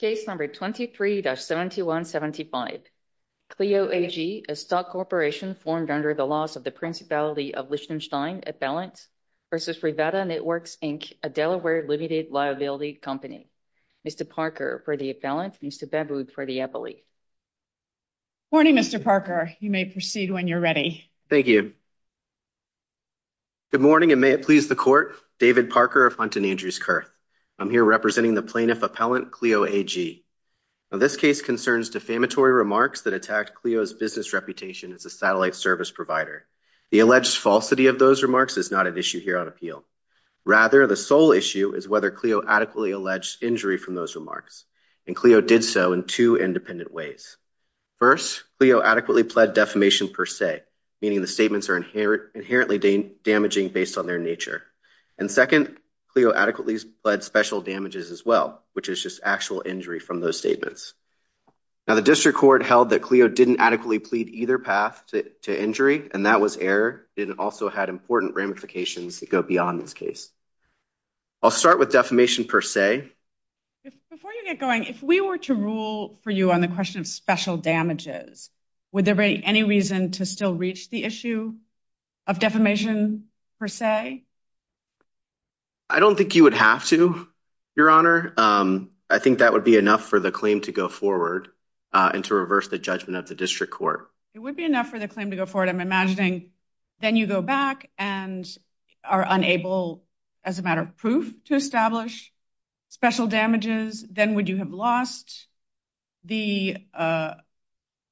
Case number 23-7175. KLEO AG, a stock corporation formed under the laws of the Principality of Liechtenstein Appellant v. Rivada Networks, Inc., a Delaware Limited Liability Company. Mr. Parker for the appellant. Mr. Baboud for the appellee. Morning, Mr. Parker. You may proceed when you're ready. Thank you. Good morning, and may it please the Court. David Parker of Hunt & Andrews I'm here representing the Plaintiff Appellant, KLEO AG. This case concerns defamatory remarks that attacked KLEO's business reputation as a satellite service provider. The alleged falsity of those remarks is not an issue here on appeal. Rather, the sole issue is whether KLEO adequately alleged injury from those remarks, and KLEO did so in two independent ways. First, KLEO adequately pled defamation per se, meaning the statements are inherently damaging based on their nature. And second, KLEO adequately pled special damages as well, which is just actual injury from those statements. Now, the District Court held that KLEO didn't adequately plead either path to injury, and that was error. It also had important ramifications that go beyond this case. I'll start with defamation per se. Before you get going, if we were to rule for you on the question of special damages, would there be any reason to still reach the issue of defamation per se? I don't think you would have to, Your Honor. I think that would be enough for the claim to go forward and to reverse the judgment of the District Court. It would be enough for the claim to go forward. I'm imagining then you go back and are unable, as a matter of proof, to establish special damages. Then would you have lost the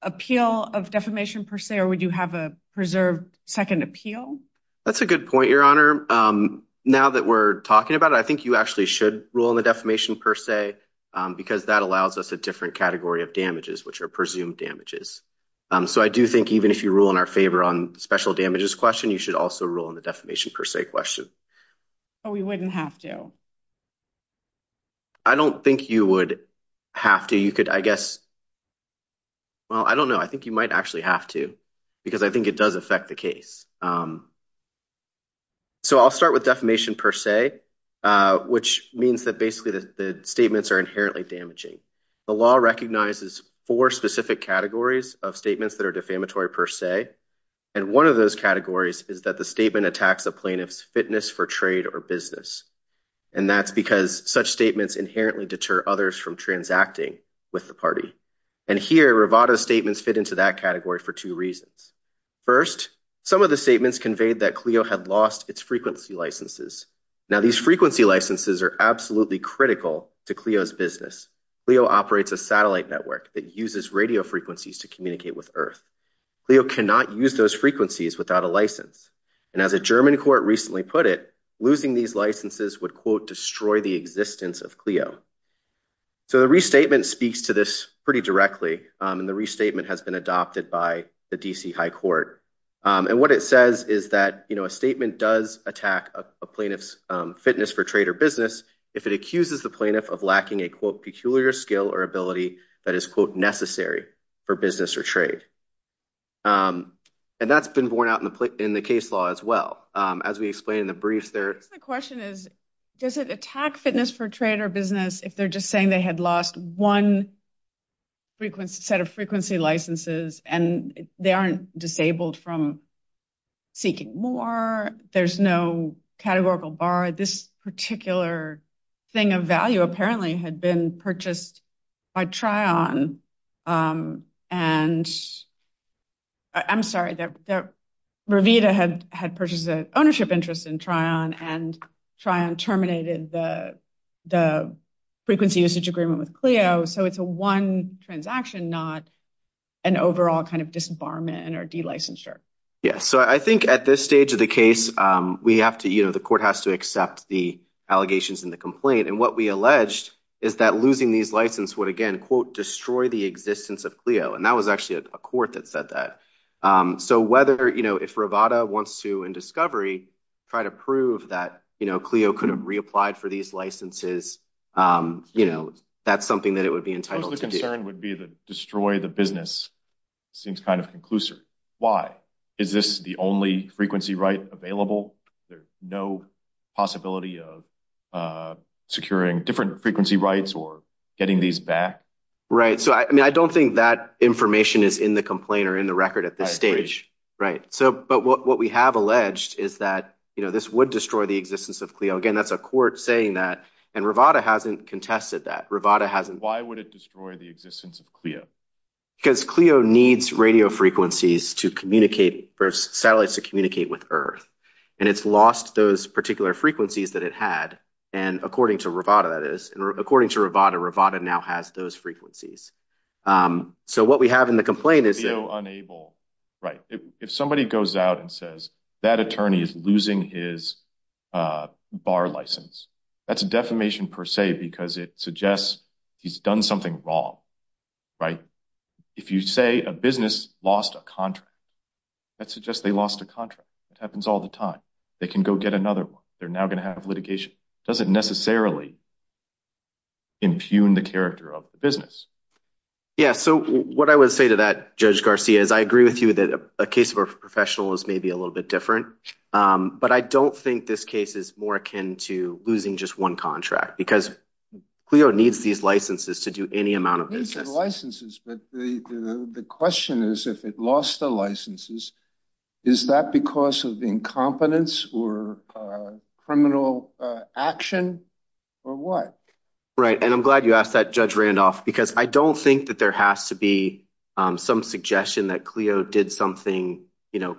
appeal of defamation per se, or would you have a preserved second appeal? That's a good point, Your Honor. Now that we're talking about it, I think you actually should rule on the defamation per se, because that allows us a different category of damages, which are presumed damages. So I do think even if you rule in our favor on the special damages question, you should also rule on the defamation per se question. Oh, we wouldn't have to. I don't think you would have to. You could, I guess, well, I don't know. I think you might actually have to, because I think it does affect the case. So I'll start with defamation per se, which means that basically the statements are inherently damaging. The law recognizes four specific categories of statements that are defamatory per se, and one of those categories is that the statement attacks a plaintiff's fitness for trade or business. And that's because such statements inherently deter others from transacting with the party. And here, Rivado's statements fit into that category for two reasons. First, some of the statements conveyed that Clio had lost its frequency licenses. Now, these frequency licenses are absolutely critical to Clio's business. Clio operates a satellite network that uses radio frequencies to communicate with Earth. Clio cannot use those frequencies without a license. And as a German court recently put it, losing these licenses would, quote, destroy the existence of Clio. So the restatement speaks to this pretty directly, and the restatement has been adopted by the D.C. High Court. And what it says is that a statement does attack a plaintiff's fitness for trade or business if it accuses the plaintiff of lacking a, quote, peculiar skill or ability that is, quote, necessary for business or trade. And that's been borne out in the case law as well. As we explained in the briefs, there— The question is, does it attack fitness for trade or business if they're just saying they had lost one set of frequency licenses, and they aren't disabled from seeking more, there's no categorical bar? This particular thing of value apparently had been purchased by Trion and— I'm sorry, that Revita had purchased an ownership interest in Trion, and Trion terminated the frequency usage agreement with Clio. So it's a one transaction, not an overall kind of disbarment or de-licensure. Yeah. So I think at this stage of the case, we have to, you know, the court has to accept the allegations in the complaint. And what we alleged is that losing these licenses would, again, quote, destroy the existence of Clio. And that was actually a court that said that. So whether, you know, if Revita wants to, in discovery, try to prove that, you know, Clio could have reapplied for these licenses, you know, that's something that it would be entitled to do. The concern would be that destroy the business seems kind of conclusive. Why? Is this the only frequency right available? There's no possibility of securing different frequency rights or getting these back? Right. So, I mean, I don't think that information is in the complaint or in the record at this stage. Right. But what we have alleged is that, you know, this would destroy the existence of Clio. Again, that's a court saying that. And Revita hasn't contested that. Revita hasn't— Why would it destroy the existence of Clio? Because Clio needs radio frequencies to communicate, for satellites to communicate with Earth. And it's lost those particular frequencies that it had. And according to Revita, that is, according to Revita, Revita now has those frequencies. So what we have in the complaint is that— Clio unable. Right. If somebody goes out and says that attorney is losing his bar license, that's a defamation per se because it suggests he's done something wrong. Right. If you say a business lost a contract, that suggests they lost a contract. It happens all the time. They can go get another one. They're now going to have litigation. Doesn't necessarily impugn the character of the business. Yeah. So what I would say to that, Judge Garcia, is I agree with you that a case of a professional is maybe a little bit different. But I don't think this case is more akin to losing just one contract because Clio needs these licenses to do any amount of business. But the question is, if it lost the licenses, is that because of incompetence or criminal action or what? Right. And I'm glad you asked that, Judge Randolph, because I don't think that there has to be some suggestion that Clio did something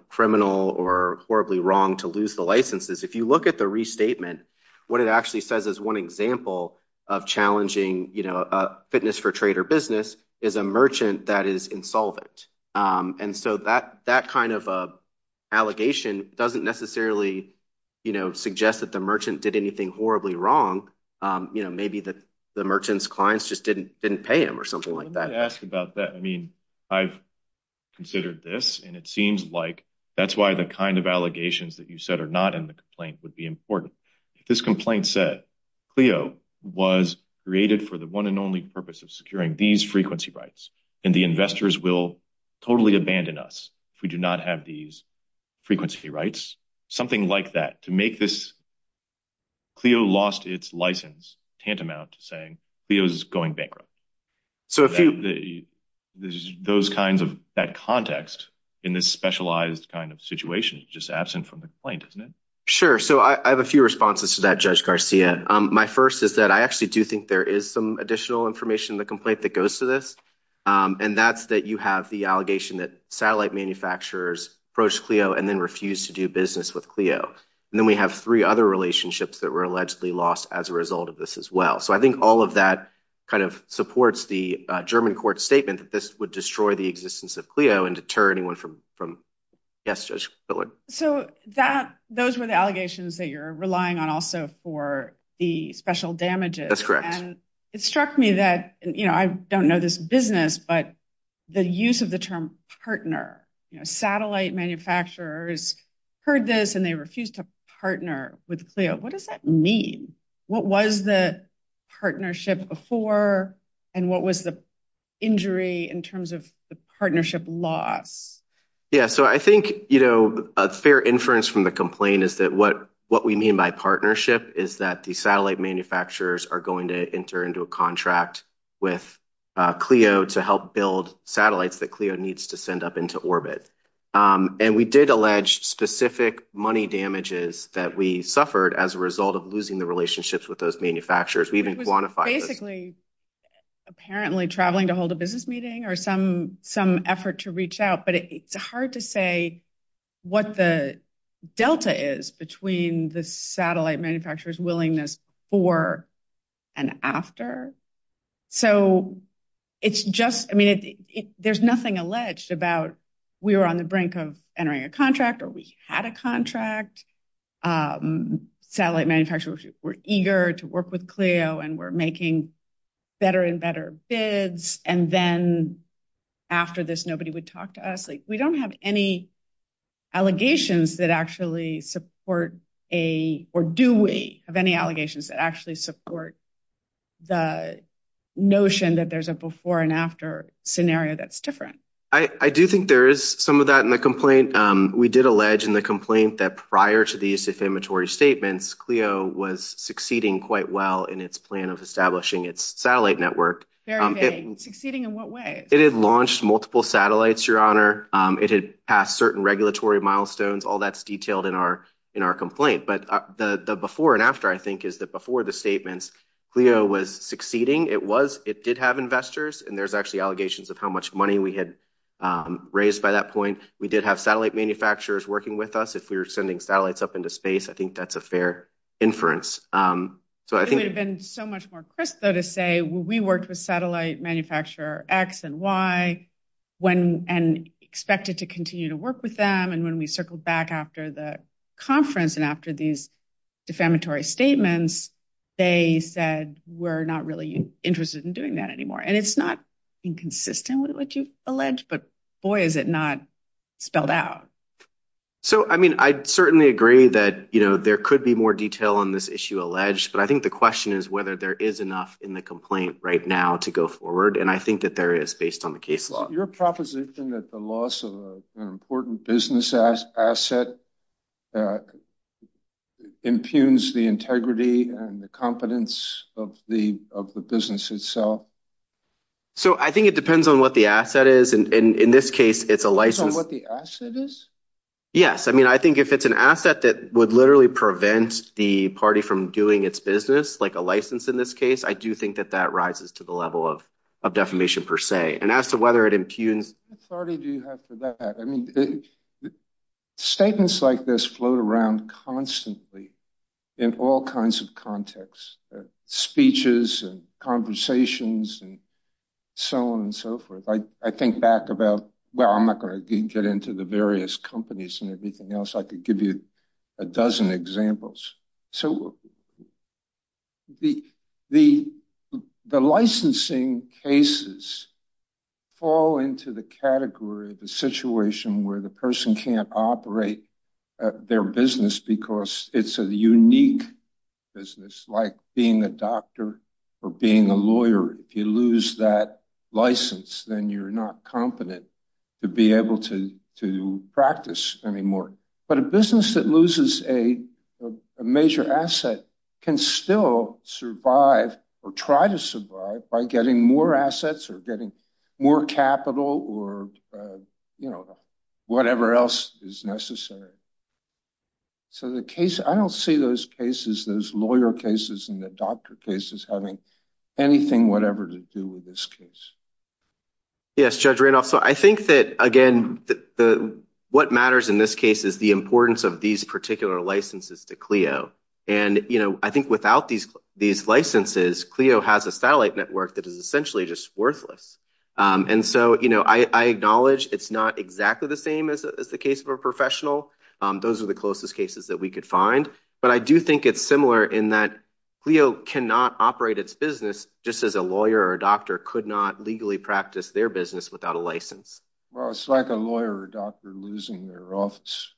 criminal or horribly wrong to lose the licenses. If you look at the restatement, what it actually says is one example of challenging fitness for trade or business is a merchant that is insolvent. And so that kind of allegation doesn't necessarily suggest that the merchant did anything horribly wrong. Maybe the merchant's clients just didn't pay him or something like that. Let me ask about that. I mean, I've considered this and it seems like that's why the kind of allegations that you said are not in the complaint would be important. This complaint said Clio was created for the one and only purpose of securing these frequency rights and the investors will totally abandon us if we do not have these frequency rights. Something like that. To make this, Clio lost its license tantamount to saying Clio is going bankrupt. So those kinds of, that context in this specialized kind of situation is just that. I have two responses to that, Judge Garcia. My first is that I actually do think there is some additional information in the complaint that goes to this. And that's that you have the allegation that satellite manufacturers approached Clio and then refused to do business with Clio. And then we have three other relationships that were allegedly lost as a result of this as well. So I think all of that kind of supports the German court statement that this would destroy the existence of Clio and deter anyone from... Yes, Judge Fillard. So those were the allegations that you're relying on also for the special damages. That's correct. And it struck me that, I don't know this business, but the use of the term partner, satellite manufacturers heard this and they refused to partner with Clio. What does that mean? What was the partnership before and what was the injury in terms of the partnership loss? Yeah. So I think a fair inference from the complaint is that what we mean by partnership is that the satellite manufacturers are going to enter into a contract with Clio to help build satellites that Clio needs to send up into orbit. And we did allege specific money damages that we suffered as a result of losing the relationships with those manufacturers. We even quantified... It was basically apparently traveling to hold a business meeting or some effort to reach out, it's hard to say what the delta is between the satellite manufacturer's willingness for and after. So there's nothing alleged about we were on the brink of entering a contract, or we had a contract. Satellite manufacturers were eager to work with Clio and were making better and better bids. And then after this, nobody would talk to us. We don't have any allegations that actually support, or do we have any allegations that actually support the notion that there's a before and after scenario that's different. I do think there is some of that in the complaint. We did allege in the complaint that prior to these defamatory statements, Clio was succeeding quite well in its plan of establishing its satellite network. Very vague. Succeeding in what way? It had launched multiple satellites, your honor. It had passed certain regulatory milestones, all that's detailed in our complaint. But the before and after, I think, is that before the statements, Clio was succeeding. It did have investors, and there's actually allegations of how much money we had raised by that point. We did have satellite manufacturers working with us if we were sending satellites up into space. I think that's a fair inference. It would have been so much more crisp, though, to say, we worked with satellite manufacturer X and Y and expected to continue to work with them. And when we circled back after the conference and after these defamatory statements, they said, we're not really interested in doing that anymore. And it's not inconsistent with what you've alleged, but boy, is it not spelled out. So, I mean, I certainly agree that there could be more detail on this issue alleged, but I think the question is whether there is enough in the complaint right now to go forward. And I think that there is based on the case law. Your proposition that the loss of an important business asset impugns the integrity and the competence of the business itself? So, I think it depends on what the asset is. And in this case, it's a license. The asset is? Yes. I mean, I think if it's an asset that would literally prevent the party from doing its business, like a license in this case, I do think that that rises to the level of defamation per se. And as to whether it impugns... What authority do you have for that? I mean, statements like this float around constantly in all kinds of contexts, speeches and conversations and so on and so forth. I think back about, well, I'm not going to get into the various companies and everything else. I could give you a dozen examples. So, the licensing cases fall into the category of the situation where the person can't operate their business because it's a unique business, like being a doctor or being a lawyer. If you lose that license, then you're not competent to be able to practice anymore. But a business that loses a major asset can still survive or try to survive by getting more assets or getting more capital or whatever else is necessary. So, I don't see those cases, those lawyer cases and the doctor cases having anything whatever to do with this case. Yes, Judge Randolph. So, I think that, again, what matters in this case is the importance of these particular licenses to Clio. And I think without these licenses, Clio has a satellite network that is essentially just worthless. And so, I acknowledge it's not exactly the same as the case of a professional, those are the closest cases that we could find. But I do think it's similar in that Clio cannot operate its business just as a lawyer or a doctor could not legally practice their business without a license. Well, it's like a lawyer or a doctor losing their office,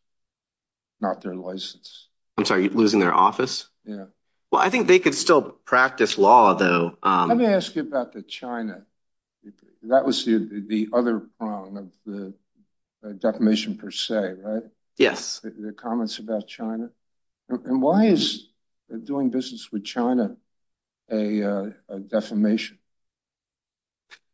not their license. I'm sorry, losing their office? Yeah. Well, I think they could still practice law though. Let me ask you about the China. That was the other prong of the defamation per se, right? Yes. The comments about China. And why is doing business with China a defamation?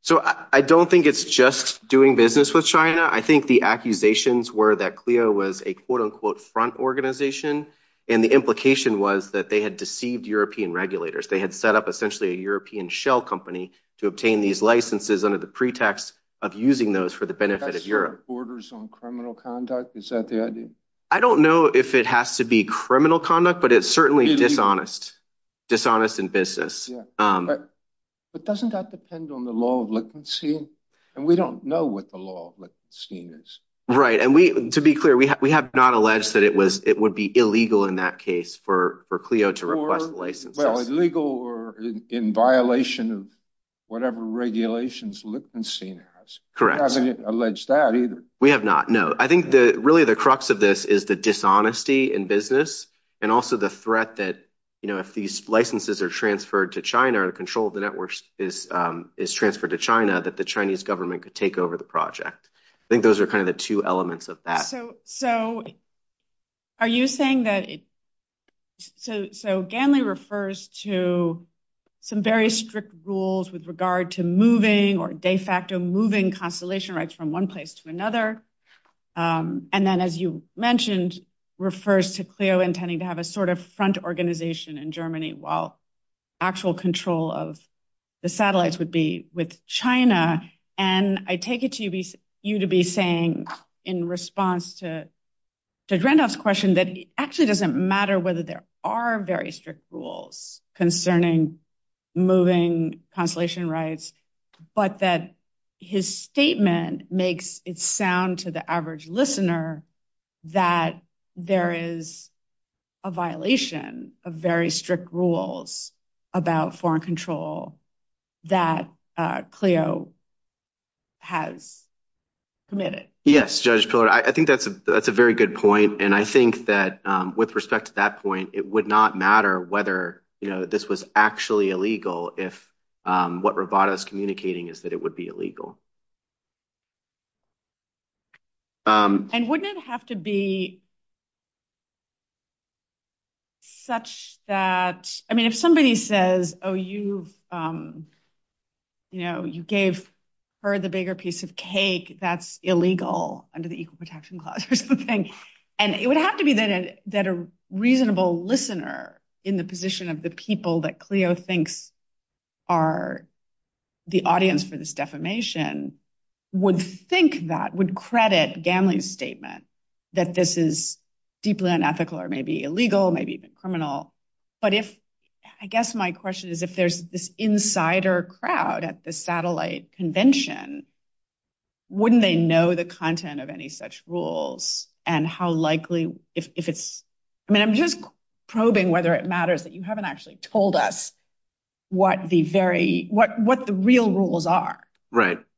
So, I don't think it's just doing business with China. I think the accusations were that Clio was a quote unquote front organization. And the implication was that they had deceived European regulators. They had set up essentially a European shell company to obtain these licenses under the pretext of using those for the benefit of Europe. That's your borders on criminal conduct? Is that the idea? I don't know if it has to be criminal conduct, but it's certainly dishonest. Dishonest in business. But doesn't that depend on the law of liquidation? And we don't know what the law of liquidation is. Right. And to be clear, we have not alleged that it would be illegal in that case for Clio to request licenses. Well, illegal or in violation of whatever regulations Lichtenstein has. Correct. We haven't alleged that either. We have not. No. I think that really the crux of this is the dishonesty in business and also the threat that if these licenses are transferred to China or the control of the networks is transferred to China, that the Chinese government could take over the project. I think those are kind of the two elements of that. So are you saying that... So Ganley refers to some very strict rules with regard to moving or de facto moving constellation rights from one place to another. And then, as you mentioned, refers to Clio intending to have a sort of front organization in Germany while actual control of the satellites would be with China. And I take it to you to be saying in response to Dr. Randolph's question that it actually doesn't matter whether there are very strict rules concerning moving constellation rights, but that his statement makes it sound to the average listener that there is a violation of very strict rules about foreign control that Clio has committed. Yes, Judge Pillard. I think that's a very good point. And I think that with respect to that point, it would not matter whether this was actually illegal if what Roboto is communicating is that it would be illegal. And wouldn't it have to be such that... I mean, if somebody says, oh, you gave her the bigger piece of cake, that's illegal under the Equal Protection Clause, here's the thing. And it would have to be that a reasonable listener in the position of the people that Clio thinks are the audience for this defamation would think that, would credit Gamley's statement that this is deeply unethical or maybe illegal, maybe even criminal. But I guess my question is if there's this insider crowd at the satellite convention, wouldn't they know the content of any such rules and how likely... I mean, I'm just probing whether it matters that you haven't actually told us what the real rules are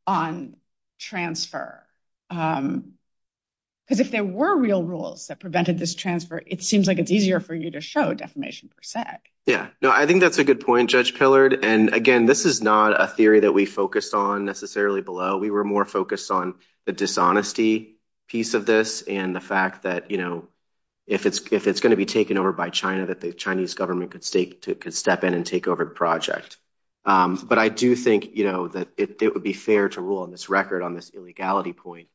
on transfer. Because if there were real rules that prevented this transfer, it seems like it's easier for you to show defamation per se. Yeah. No, I think that's a good point, Judge Pillard. And again, this is not a theory that we focused on necessarily below. We were more focused on the dishonesty piece of this and the fact that if it's going to be taken over by China, that the Chinese government could step in and take over the project. But I do think that it would be fair to rule on this record on this illegality point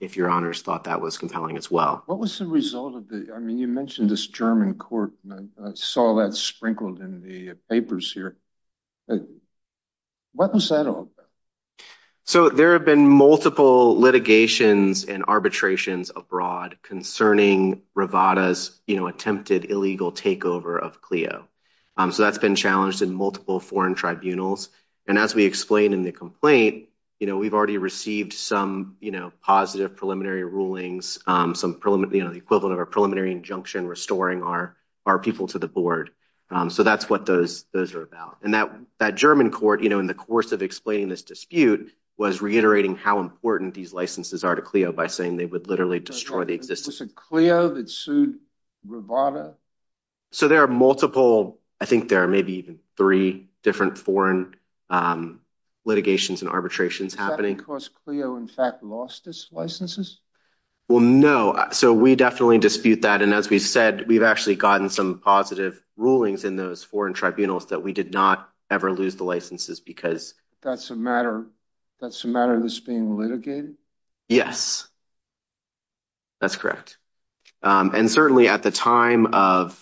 if your honors thought that was compelling as well. What was the result of the... I mean, you mentioned this German court. I saw that sprinkled in the papers here. What was that all about? So there have been multiple litigations and arbitrations abroad concerning Rivada's attempted illegal takeover of Clio. So that's been challenged in multiple foreign tribunals. And as we explained in the complaint, we've already received some positive preliminary rulings, the equivalent of a preliminary injunction restoring our people to the board. So that's what those are about. And that German court, in the course of explaining this dispute, was reiterating how important these licenses are to Clio by saying they would literally destroy the existence... Was it Clio that sued Rivada? So there are multiple, I think there are maybe even three different foreign litigations and arbitrations happening. Is that because Clio in fact lost its licenses? Well, no. So we definitely dispute that. And as we've said, we've actually gotten some positive rulings in those foreign tribunals that we did not ever lose the licenses because... That's a matter that's being litigated? Yes, that's correct. And certainly at the time of...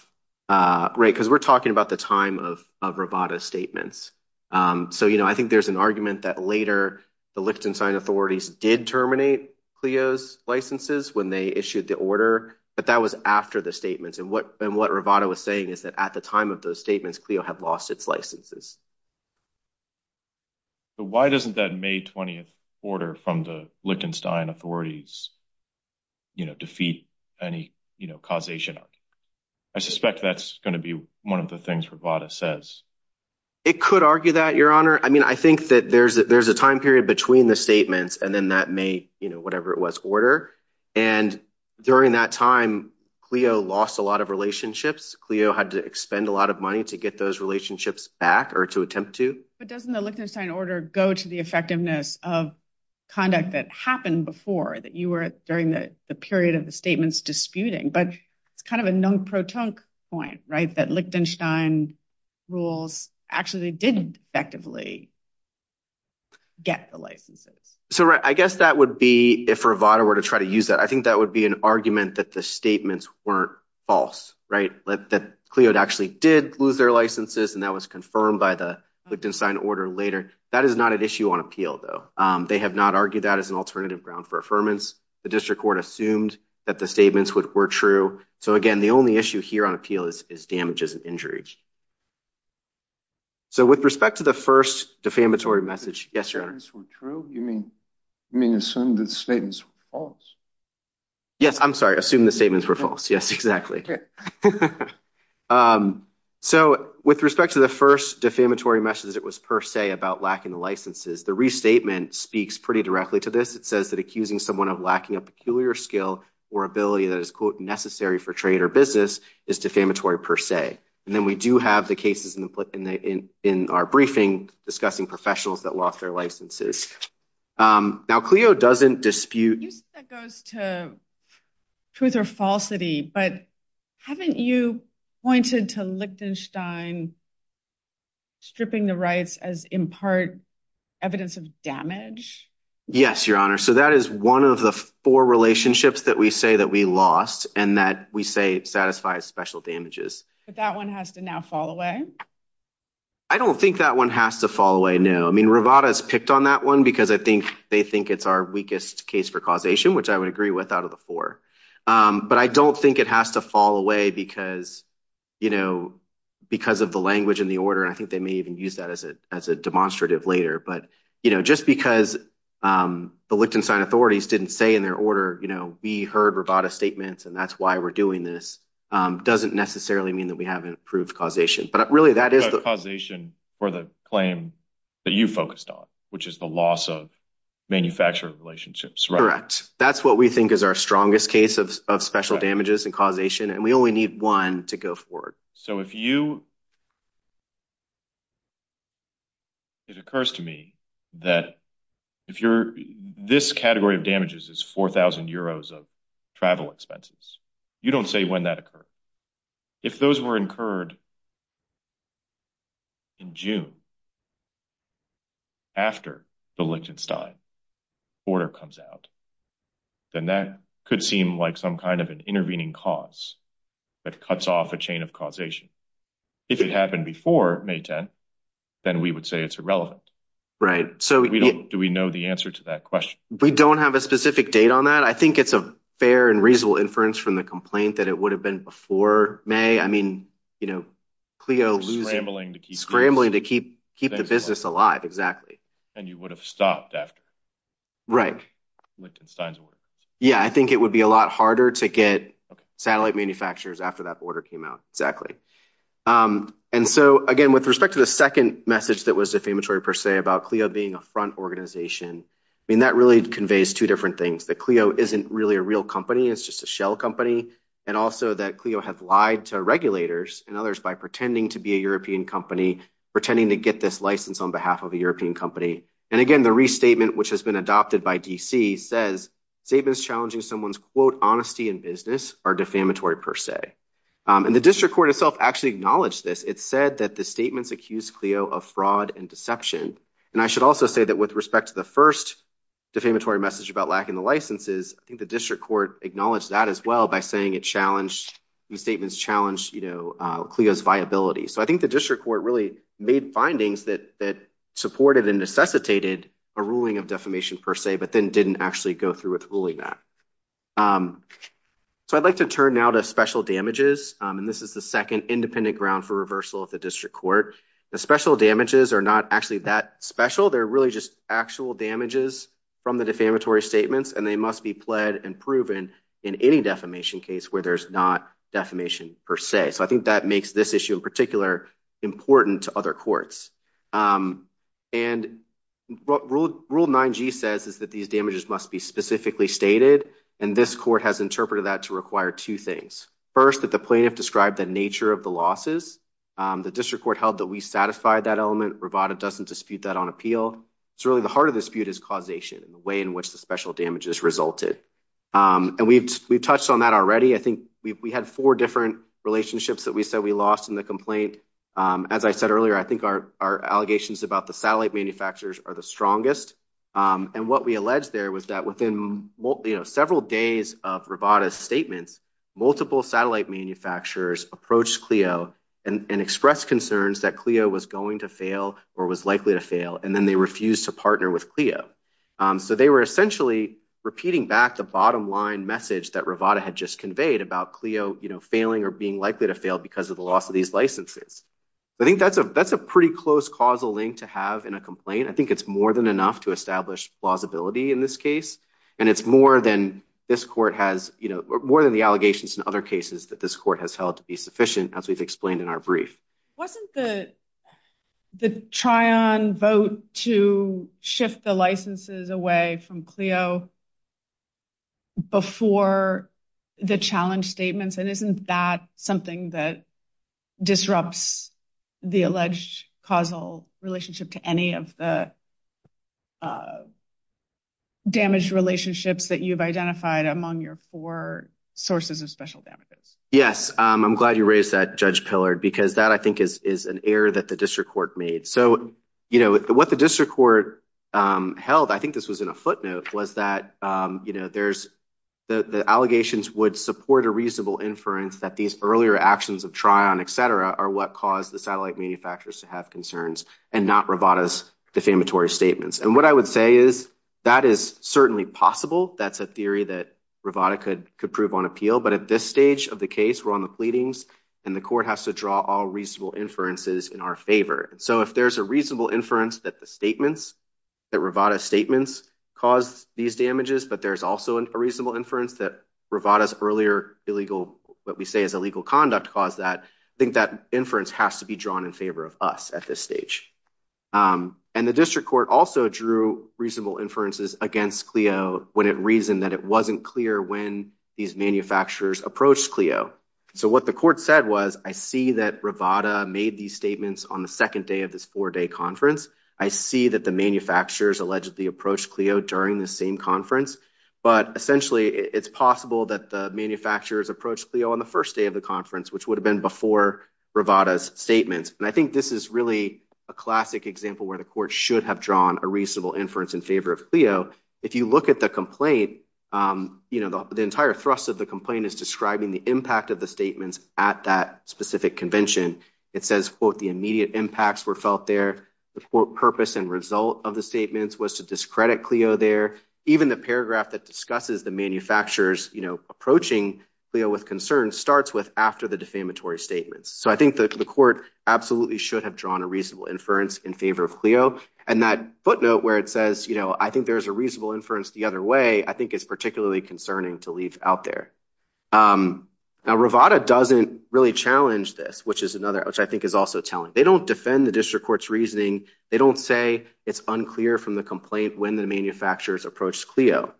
Right, because we're talking about the time of Rivada's statements. So, you know, I think there's an argument that later the Lichtenstein authorities did terminate Clio's licenses when they issued the order, but that was after the statements. And what Rivada was saying is that at the time of those statements, Clio had lost its licenses. But why doesn't that May 20th order from the Lichtenstein authorities, you know, defeat any, you know, causation argument? I suspect that's going to be one of the things Rivada says. It could argue that, Your Honor. I mean, I think that there's a time period between the statements and then that May, you know, whatever it was, order. And during that time, Clio lost a lot of Clio had to expend a lot of money to get those relationships back or to attempt to. But doesn't the Lichtenstein order go to the effectiveness of conduct that happened before that you were during the period of the statements disputing? But it's kind of a non-proton point, right? That Lichtenstein rules actually did effectively get the licenses. So I guess that would be if Rivada were to try to use that. I think that would be an argument that the statements weren't false, right? That Clio actually did lose their licenses, and that was confirmed by the Lichtenstein order later. That is not an issue on appeal, though. They have not argued that as an alternative ground for affirmance. The district court assumed that the statements were true. So again, the only issue here on appeal is damages and injuries. So with respect to the first defamatory message, yes, Your Honor. You mean assume the statements were false? Yes, I'm sorry. Assume the statements were false. Yes, exactly. So with respect to the first defamatory message that was per se about lacking the licenses, the restatement speaks pretty directly to this. It says that accusing someone of lacking a peculiar skill or ability that is, quote, necessary for trade or business is defamatory per se. And then we do have the cases in our briefing discussing professionals that lost their licenses. You said that goes to truth or falsity, but haven't you pointed to Lichtenstein stripping the rights as, in part, evidence of damage? Yes, Your Honor. So that is one of the four relationships that we say that we lost and that we say satisfies special damages. But that one has to now fall away? I don't think that one has to fall away, no. I mean, Rivada has picked on that one because I think they think it's our weakest case for causation, which I would agree with out of the four. But I don't think it has to fall away because of the language in the order. And I think they may even use that as a demonstrative later. But just because the Lichtenstein authorities didn't say in their order, we heard Rivada statements and that's why we're doing this, doesn't necessarily mean that we haven't proved causation. But really that is the causation for the claim that you focused on, which is the loss of manufacturer relationships. Correct. That's what we think is our strongest case of special damages and causation. And we only need one to go forward. So if you, it occurs to me that if you're, this category of damages is 4,000 euros of travel expenses. You don't say when that occurred. If those were incurred in June after the Lichtenstein order comes out, then that could seem like some kind of an intervening cause that cuts off a chain of causation. If it happened before May 10, then we would say it's irrelevant. Right. So do we know the answer to that question? We don't have a specific date on that. I think it's a fair and reasonable inference from the complaint that it would have been before May. I mean, you know, Clio's scrambling to keep the business alive. Exactly. And you would have stopped after Lichtenstein's order. Yeah. I think it would be a lot harder to get satellite manufacturers after that order came out. Exactly. And so again, with respect to the second message that was defamatory per se about Clio being a front organization, I mean, that really conveys two different things. That Clio isn't really a real company. It's just a shell company. And also that Clio has lied to regulators and others by pretending to be a European company, pretending to get this license on behalf of a European company. And again, the restatement, which has been adopted by DC, says statements challenging someone's, quote, honesty in business are defamatory per se. And the district court itself actually acknowledged this. It said that the statements accused Clio of fraud and deception. And I should also say that with respect to the first defamatory message about lacking the licenses, I think the district court acknowledged that as well by saying it challenged, these statements challenged, you know, Clio's viability. So I think the district court really made findings that supported and necessitated a ruling of defamation per se, but then didn't actually go through with ruling that. So I'd like to turn now to special damages. And this is the second independent ground for reversal of the district court. The special damages are not actually that special. They're really just actual damages from the defamatory statements, and they must be pled and proven in any defamation case where there's not defamation per se. So I think that makes this issue in particular important to other courts. And what Rule 9G says is that these damages must be specifically stated, and this court has interpreted that to require two things. First, that the plaintiff described the nature of the losses. The district court held that we satisfied that element. Rivada doesn't dispute that on appeal. It's really the heart of the dispute is causation and the way in which the special damages resulted. And we've touched on that already. I think we had four different relationships that we said we lost in the complaint. As I said earlier, I think our allegations about the satellite manufacturers are the strongest. And what we alleged there was that within, you know, several days of Rivada's statements, multiple satellite manufacturers approached Clio and expressed concerns that Clio was going to fail or was likely to fail, and then they refused to partner with Clio. So they were essentially repeating back the bottom line message that Rivada had just conveyed about Clio, you know, failing or being likely to fail because of the loss of these licenses. I think that's a pretty close causal link to have in a complaint. I think it's more than enough to establish plausibility in this case, and it's more than this court has, you know, more than the allegations in other cases that this court has held to be sufficient, as we've explained in our brief. Wasn't the try-on vote to shift the licenses away from Clio before the challenge statements? And isn't that something that disrupts the alleged causal relationship to any of the damaged relationships that you've identified among your four sources of special damages? Yes, I'm glad you raised that, Judge Pillard, because that, I think, is an error that the district court made. So, you know, what the district court held, I think this was in a footnote, was that, you know, there's the allegations would support a reasonable inference that these earlier actions of try-on, et cetera, are what caused the satellite manufacturers to have concerns and not Rivada's defamatory statements. And what I would say is that is certainly possible. That's a theory that Rivada could prove on appeal. But at this stage of the case, we're on the pleadings, and the court has to draw all reasonable inferences in our favor. So if there's a reasonable inference that the statements, that Rivada's statements caused these damages, but there's also a reasonable inference that Rivada's earlier illegal, what we say is illegal conduct, caused that, I think that inference has to be drawn in favor of us at this stage. And the district court also drew reasonable inferences against CLIO when it reasoned that it wasn't clear when these manufacturers approached CLIO. So what the court said was, I see that Rivada made these statements on the second day of this four-day conference. I see that the manufacturers allegedly approached CLIO during the same conference. But essentially, it's possible that the manufacturers approached CLIO on the first day of the conference, which would have been before Rivada's statements. And I think this is really a classic example where the court should have drawn a reasonable inference in favor of CLIO. If you look at the complaint, the entire thrust of the complaint is describing the impact of the statements at that specific convention. It says, quote, the immediate impacts were felt there. The purpose and result of the statements was to discredit CLIO there. Even the paragraph that discusses the manufacturers approaching CLIO with concern starts with after the defamatory statements. So I think that the court absolutely should have drawn a reasonable inference in favor of CLIO. And that footnote where it says, I think there's a reasonable inference the other way, I think is particularly concerning to leave out there. Now, Rivada doesn't really challenge this, which I think is also telling. They don't defend the district court's reasoning. They don't say it's unclear from the complaint when the manufacturers approached CLIO.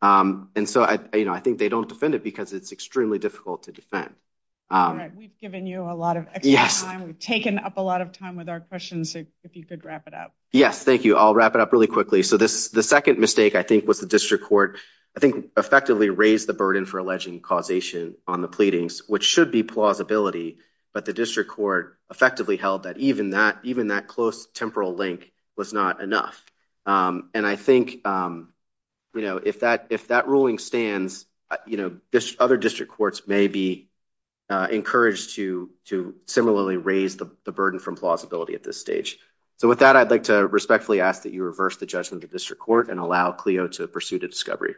And so I think they don't defend it because it's extremely difficult to defend. We've given you a lot of time. We've taken up a lot of time with our questions, if you could wrap it up. Yes, thank you. I'll wrap it up really quickly. So the second mistake, I think, was the district court, I think, effectively raised the burden for alleging causation on the pleadings, which should be plausibility. But the district court effectively held that even that close temporal link was not enough. And I think, you know, if that ruling stands, you know, other district courts may be encouraged to similarly raise the burden from plausibility at this stage. So with that, I'd like to respectfully ask that you reverse the judgment of the district court and allow CLIO to pursue the discovery.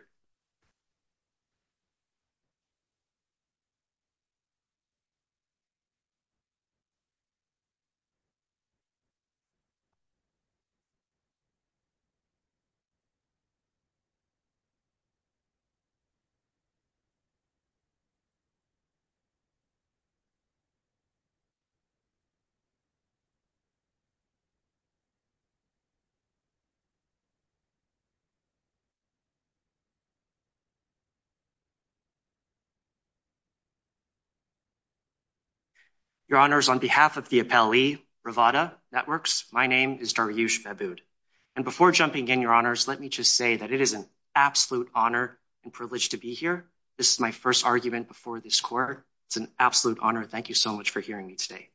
Your Honours, on behalf of the appellee, Revata Networks, my name is Daryush Babood. And before jumping in, Your Honours, let me just say that it is an absolute honour and privilege to be here. This is my first argument before this court. It's an absolute honour. Thank you so much for hearing me today.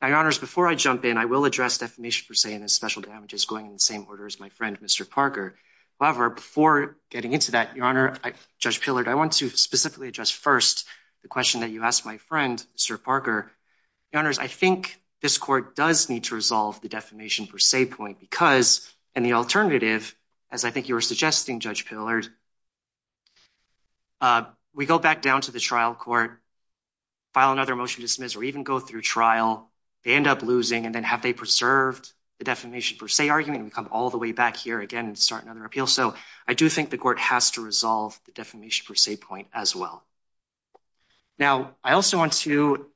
Now, Your Honours, before I jump in, I will address defamation per se and special damages going in the same order as my friend, Mr. Parker. However, before getting into that, Your Honour, Judge Pillard, I want to specifically address first the question that you asked my friend, Mr. Parker. Your Honours, I think this court does need to resolve the defamation per se point because, and the alternative, as I think you were suggesting, Judge Pillard, we go back down to the trial court, file another motion to dismiss, or even go through trial, they end up losing, and then have they preserved the defamation per se argument? We come all the way back here again and start another appeal. So I do think the court has to resolve the defamation per se point as well. Now, I also want to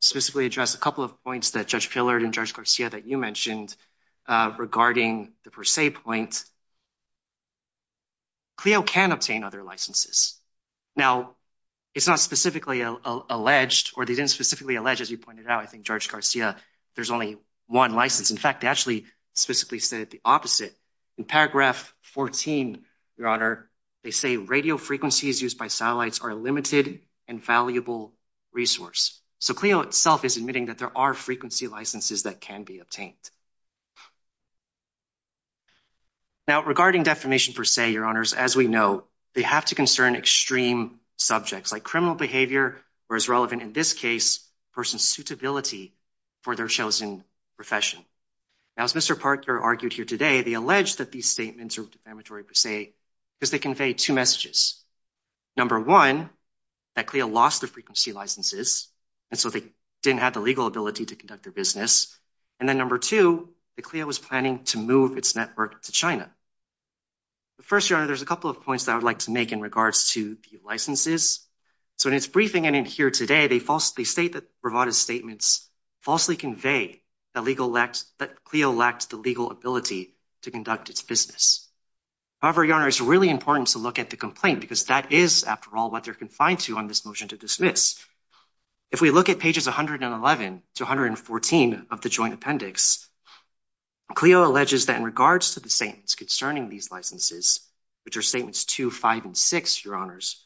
specifically address a couple of points that Judge Pillard and Judge Garcia that you mentioned regarding the per se point. CLIO can obtain other licenses. Now, it's not specifically alleged, or they didn't specifically allege, as you pointed out, I think Judge Garcia, there's only one license. In fact, they actually specifically said the opposite. In paragraph 14, Your Honour, they say radio frequencies used by satellites are a limited and valuable resource. So CLIO itself is admitting that there are frequency licenses that can be obtained. Now, regarding defamation per se, Your Honours, as we know, they have to concern extreme subjects like criminal behaviour, or as relevant in this case, a person's suitability for their chosen profession. Now, as Mr. Parker argued here today, they allege that these statements are defamatory per se because they convey two messages. Number one, that CLIO lost the frequency licenses, and so they didn't have the legal ability to conduct their business. And then number two, that CLIO was planning to move its network to China. But first, Your Honour, there's a couple that I would like to make in regards to the licenses. So in its briefing and in here today, they falsely state that Bravado's statements falsely convey that CLIO lacked the legal ability to conduct its business. However, Your Honour, it's really important to look at the complaint because that is, after all, what they're confined to on this motion to dismiss. If we look at pages 111 to 114 of the joint appendix, CLIO alleges that in regards to the concerning these licenses, which are statements two, five, and six, Your Honours,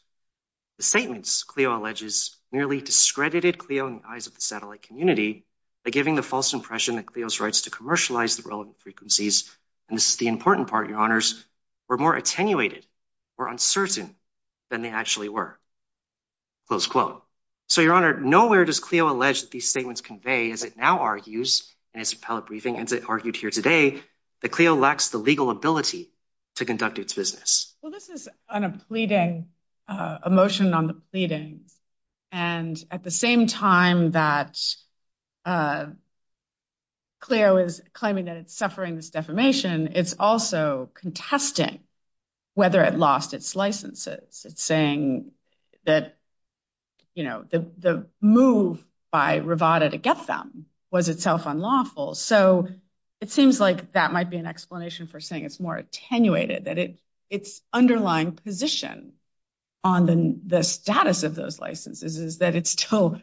the statements, CLIO alleges, nearly discredited CLIO in the eyes of the satellite community by giving the false impression that CLIO's rights to commercialize the relevant frequencies, and this is the important part, Your Honours, were more attenuated or uncertain than they actually were. Close quote. So, Your Honour, nowhere does CLIO allege that these statements convey, as it now argues in its appellate briefing, as it argued here today, that CLIO lacks the legal ability to conduct its business. Well, this is a pleading, a motion on the pleadings, and at the same time that CLIO is claiming that it's suffering this defamation, it's also contesting whether it lost its licenses. It's saying that, you know, the move by Rivada to get them was itself unlawful. So, it seems like that might be an explanation for saying it's more attenuated, that its underlying position on the status of those licenses is that it still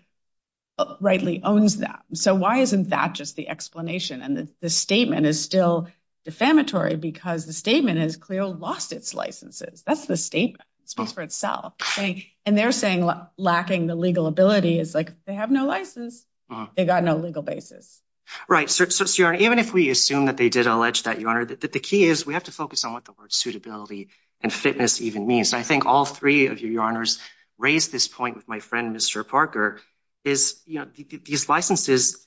rightly owns them. So, why isn't that just the explanation? And the statement is still defamatory because the statement is CLIO lost its licenses. That's the statement. It speaks for itself. And they're saying lacking the legal ability is like they have no license. They got no legal basis. Right. So, Your Honour, even if we assume that they did allege that, Your Honour, the key is we have to focus on what the word suitability and fitness even means. I think all three of you, Your Honours, raised this point with my friend, Mr. Parker, is, you know, these licenses,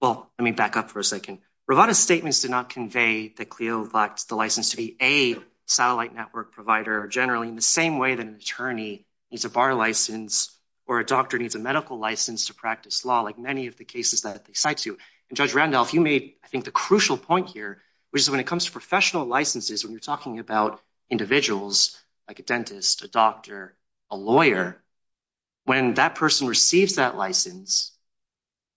well, let me back up for a second. Rivada's statements did not convey that CLIO the license to be a satellite network provider generally in the same way that an attorney needs a bar license or a doctor needs a medical license to practice law, like many of the cases that they cite to. And Judge Randolph, you made, I think, the crucial point here, which is when it comes to professional licenses, when you're talking about individuals, like a dentist, a doctor, a lawyer, when that person receives that license,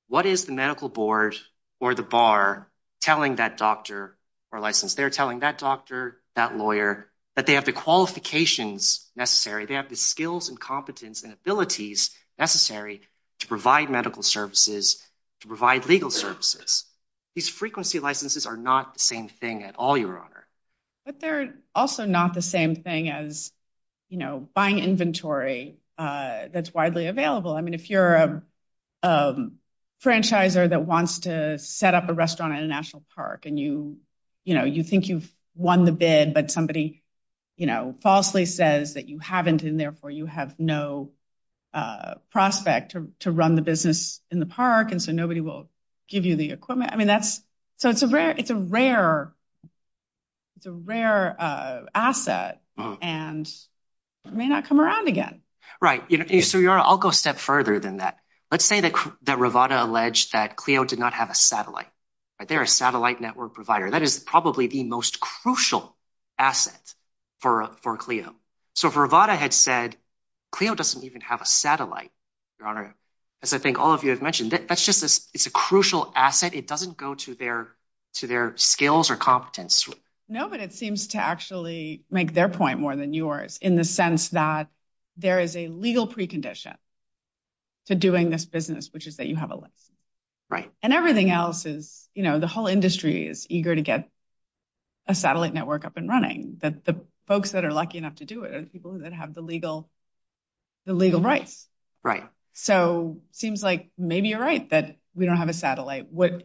what is the medical board or the bar telling that doctor or license? They're telling that doctor, that lawyer, that they have the qualifications necessary. They have the skills and competence and abilities necessary to provide medical services, to provide legal services. These frequency licenses are not the same thing at all, Your Honour. But they're also not the same thing as, you know, buying inventory that's widely available. I mean, if you're a franchisor that wants to set up a restaurant at a national park and you, you know, you think you've won the bid, but somebody, you know, falsely says that you haven't, and therefore you have no prospect to run the business in the park, and so nobody will give you the equipment. I mean, that's, so it's a rare, it's a rare, it's a rare asset and it may not come around again. Right. So, Your Honour, I'll go a step further than that. Let's say that, that Rivada alleged that Clio did not have a satellite, right? They're a satellite network provider. That is probably the most crucial asset for, for Clio. So if Rivada had said, Clio doesn't even have a satellite, Your Honour, as I think all of you have mentioned, that's just, it's a crucial asset. It doesn't go to their, to their skills or competence. No, but it seems to actually make their point more than yours, in the sense that there is a legal precondition to doing this business, which is that you have a license. Right. And everything else is, you know, the whole industry is eager to get a satellite network up and running, that the folks that are lucky enough to do it are the people that have the legal, the legal rights. Right. So seems like maybe you're right that we don't have a satellite network.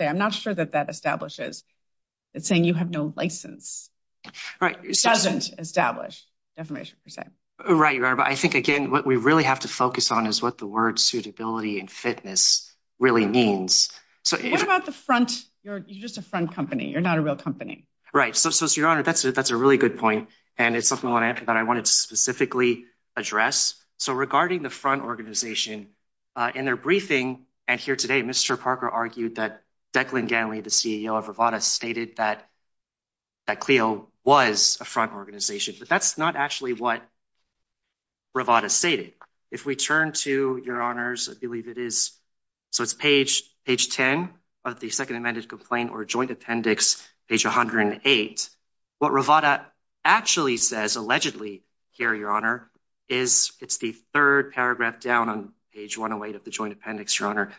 I'm not sure that that establishes, it's saying you have no license. Right. Doesn't establish, defamation per se. Right, Your Honour. But I think, again, what we really have to focus on is what the word suitability and fitness really means. So what about the front, you're just a front company, you're not a real company. Right. So, so, Your Honour, that's a, that's a really good point. And it's something that I wanted to specifically address. So regarding the front organization, in their briefing, and here today, Mr. Parker argued that Declan Ganley, the CEO of Rivada, stated that, that Clio was a front organization. But that's not actually what Rivada stated. If we turn to, Your Honours, I believe it is, so it's page, page 10 of the second amended complaint or joint appendix, page 108. What Rivada actually says, allegedly, here, Your Honour, is, it's the third paragraph down on page 108 of the joint appendix, Your Honour.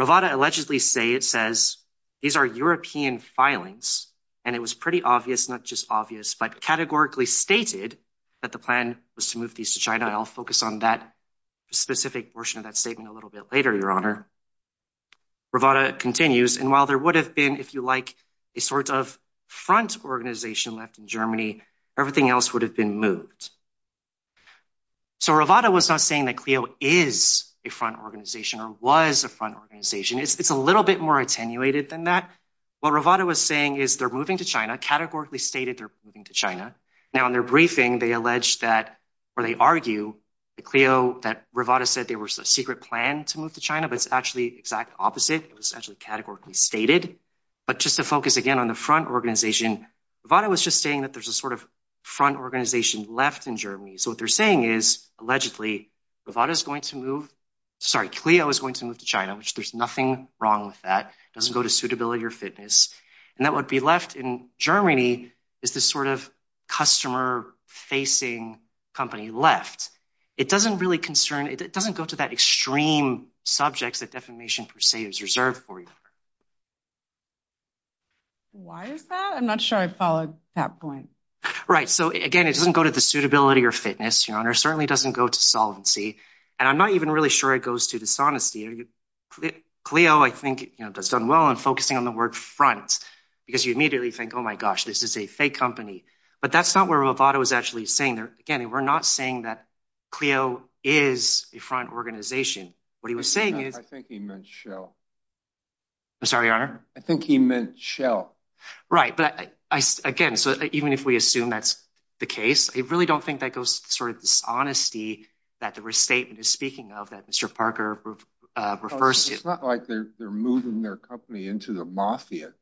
Rivada allegedly say, it says, these are European filings. And it was pretty obvious, not just obvious, but categorically stated that the plan was to move these to China. I'll focus on that specific portion of that statement a little bit later, Your Honour. Rivada continues, and while there would have been, if you like, a sort of front organization left in Germany, everything else would have been moved. So Rivada was not saying that Clio is a front organization, or was a front organization. It's a little bit more attenuated than that. What Rivada was saying is they're moving to China, categorically stated they're moving to China. Now in their briefing, they allege that, or they argue, that Clio, that Rivada said there was a secret plan to move to China, but it's actually exact opposite. It was actually categorically stated. But just to focus again on the front organization, Rivada was just saying that there's a sort of front organization left in Germany. So what they're saying is, allegedly, Rivada is going to move, sorry, Clio is going to move to China, which there's nothing wrong with that. It doesn't go to suitability or fitness. And that would be left in Germany is this sort of customer-facing company left. It doesn't really concern, it doesn't go to that extreme subjects that defamation per se is reserved for. Why is that? I'm not sure I followed that point. Right. So again, it doesn't go to the suitability or fitness, Your Honor, certainly doesn't go to solvency. And I'm not even really sure it goes to dishonesty. Clio, I think, does well in focusing on the word front, because you immediately think, oh my gosh, this is a fake company. But that's not where Rivada was actually saying there. Again, we're not saying that Clio is a front organization. What he was saying is- I think he meant Shell. I'm sorry, Your Honor? I think he meant Shell. Right. But again, even if we assume that's the case, I really don't think that goes to sort of dishonesty that the restatement is speaking of that Mr. Parker refers to. It's not like they're moving their company into the mafia.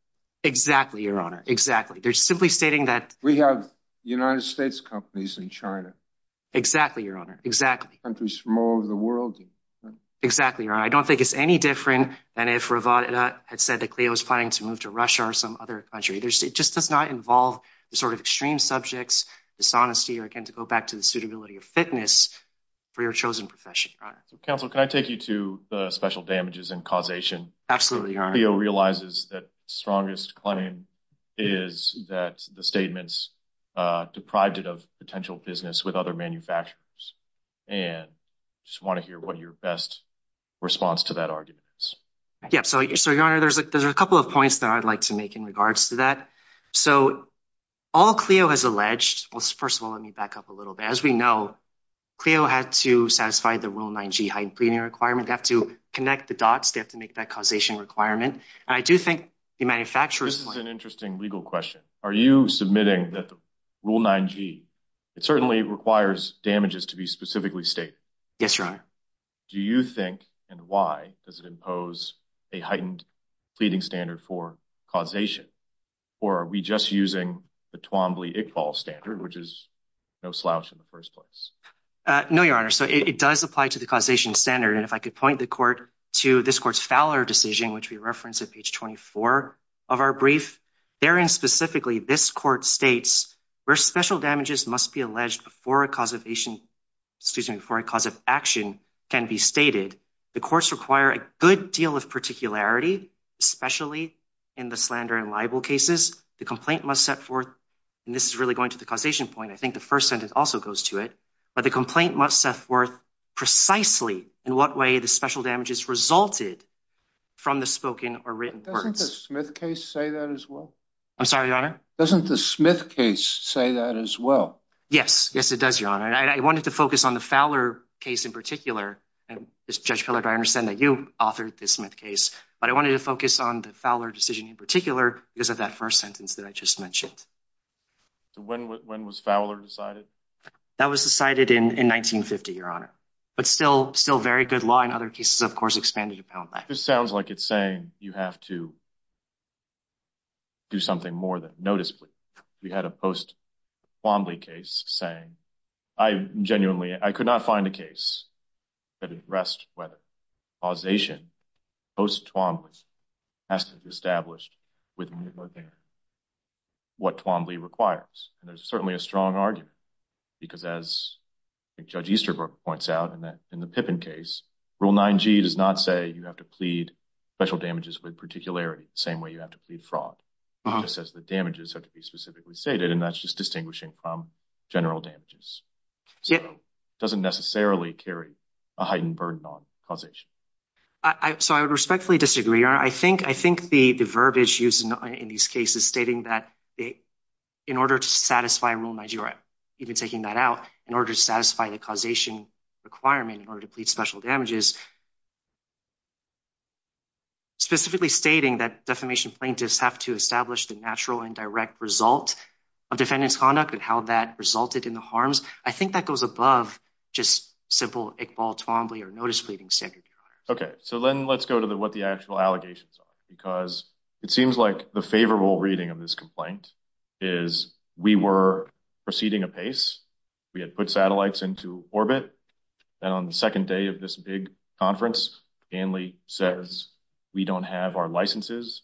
Exactly, Your Honor. Exactly. They're simply stating that- We have United States companies in China. Exactly, Your Honor. Exactly. Countries from all over the world. Exactly, Your Honor. I don't think it's any different than if Rivada had said that Clio was planning to move to Russia or some other country. It just does not involve the sort of extreme subjects, dishonesty, or again, to go back to the suitability or fitness for your chosen profession, Your Honor. Counsel, can I take you to the special damages and causation? Absolutely, Your Honor. Clio realizes that strongest claim is that the statements deprived it of potential business with other manufacturers. And I just want to hear what your best response to that argument is. Yeah. So, Your Honor, there's a couple of points that I'd like to make in regards to that. So, all Clio has alleged, well, first of all, let me back up a little bit. As we know, Clio had to satisfy the Rule 9G heightened premium requirement. They have to connect the I do think the manufacturers— This is an interesting legal question. Are you submitting that the Rule 9G, it certainly requires damages to be specifically stated? Yes, Your Honor. Do you think, and why, does it impose a heightened pleading standard for causation? Or are we just using the Twombly-Iqbal standard, which is no slouch in the first place? No, Your Honor. So, it does apply to the causation standard. And if I could point the court to this court's Fowler decision, which we referenced at page 24 of our brief, therein specifically, this court states, where special damages must be alleged before a cause of action can be stated, the courts require a good deal of particularity, especially in the slander and libel cases. The complaint must set forth, and this is really going to the causation point, I think the first sentence also goes to it, but the complaint must set forth precisely in what way the special damages resulted from the spoken or written words. Doesn't the Smith case say that as well? I'm sorry, Your Honor? Doesn't the Smith case say that as well? Yes. Yes, it does, Your Honor. And I wanted to focus on the Fowler case in particular, and Judge Pillard, I understand that you authored the Smith case, but I wanted to focus on the Fowler decision in particular because of that first sentence that I just mentioned. When was Fowler decided? That was decided in 1950, Your Honor, but still very good law in other cases, of course, expanded upon that. This sounds like it's saying you have to do something more than noticeably. We had a post-Twombly case saying, I genuinely, I could not find a case that addressed whether causation post-Twombly has to be established with more than what Twombly requires. And there's certainly a strong argument because as Judge Easterbrook points out in the Pippin case, Rule 9G does not say you have to plead special damages with particularity, the same way you have to plead fraud. It just says the damages have to be specifically stated, and that's just distinguishing from general damages. So it doesn't necessarily carry a heightened burden on causation. So I would respectfully disagree, Your Honor. I think the verbiage used in these cases stating that in order to satisfy Rule 9G, or even taking that out, in order to satisfy the causation requirement in order to plead special damages, specifically stating that defamation plaintiffs have to establish the natural and direct result of defendant's conduct and how that resulted in harms, I think that goes above just simple Iqbal Twombly or notice pleading standard, Your Honor. Okay. So then let's go to what the actual allegations are, because it seems like the favorable reading of this complaint is we were proceeding apace. We had put satellites into orbit. Then on the second day of this big conference, Stanley says, we don't have our licenses.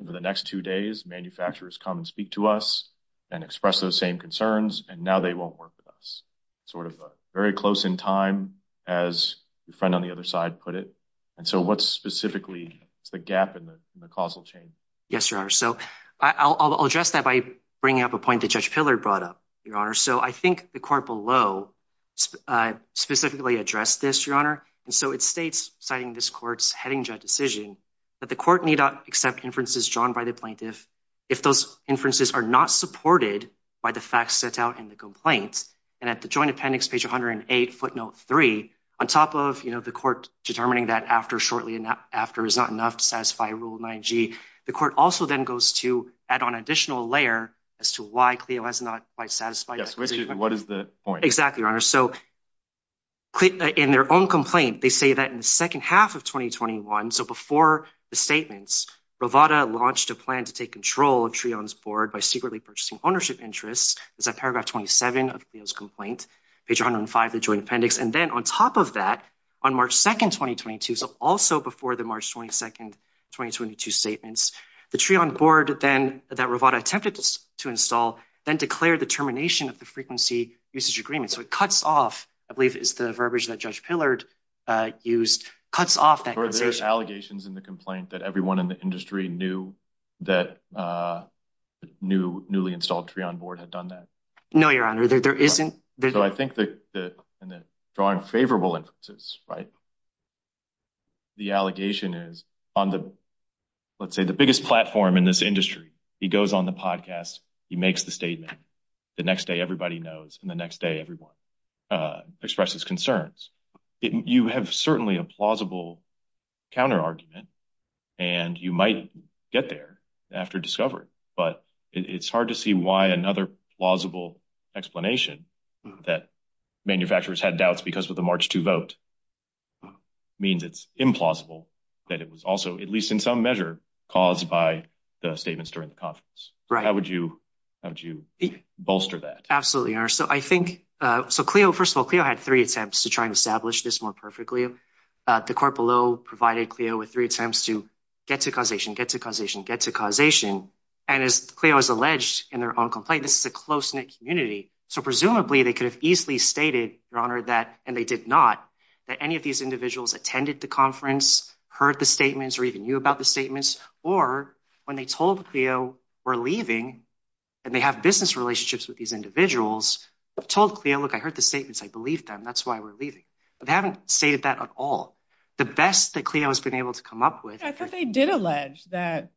Over the next two days, manufacturers come and speak to us and express those same concerns, and now they won't work with us. Sort of very close in time, as your friend on the other side put it. And so what's specifically the gap in the causal chain? Yes, Your Honor. So I'll address that by bringing up a point that Judge Pillard brought up, Your Honor. So I think the court below specifically addressed this, Your Honor. And so it states, citing this court's heading judge decision, that the court need not accept inferences drawn by the plaintiff if those inferences are not supported by the facts set out in the complaints. And at the joint appendix, page 108, footnote three, on top of, you know, the court determining that after shortly after is not enough to satisfy Rule 9G, the court also then goes to add on additional layer as to why CLEO has not quite satisfied. Yes, what is the point? Exactly, Your Honor. So in their own complaint, they say that in the second half of 2021, so before the statements, Rovada launched a plan to take control of TRION's board by secretly purchasing ownership interests. It's at paragraph 27 of CLEO's complaint, page 105, the joint appendix. And then on top of that, on March 2nd, 2022, so also before the March 22nd, 2022 statements, the TRION board then, that Rovada attempted to install, then declared the termination of the frequency usage agreement. So it cuts off, I believe is the verbiage that Judge Pillard used, cuts off that compensation. In the complaint that everyone in the industry knew that the newly installed TRION board had done that? No, Your Honor, there isn't. So I think that in the drawing favorable inferences, right, the allegation is on the, let's say, the biggest platform in this industry, he goes on the podcast, he makes the statement, the next day everybody knows, and the next day everyone expresses concerns. You have certainly a plausible counter-argument, and you might get there after discovery, but it's hard to see why another plausible explanation that manufacturers had doubts because of the March 2 vote means it's implausible that it was also, at least in some measure, caused by the statements during the conference. How would you bolster that? Absolutely, Your Honor. So I think, so CLIO, first of all, CLIO had three attempts to try and establish this more perfectly. The court below provided CLIO with three attempts to get to causation, get to causation, get to causation, and as CLIO has alleged in their own complaint, this is a close-knit community, so presumably they could have easily stated, Your Honor, that, and they did not, that any of these individuals attended the conference, heard the statements, or even knew about the statements, or when they told CLIO we're leaving and they have business relationships with these individuals, told CLIO, look, I heard the statements, I believe them, that's why we're leaving, but they haven't stated that at all. The best that CLIO has been able to come up with. I thought they did allege that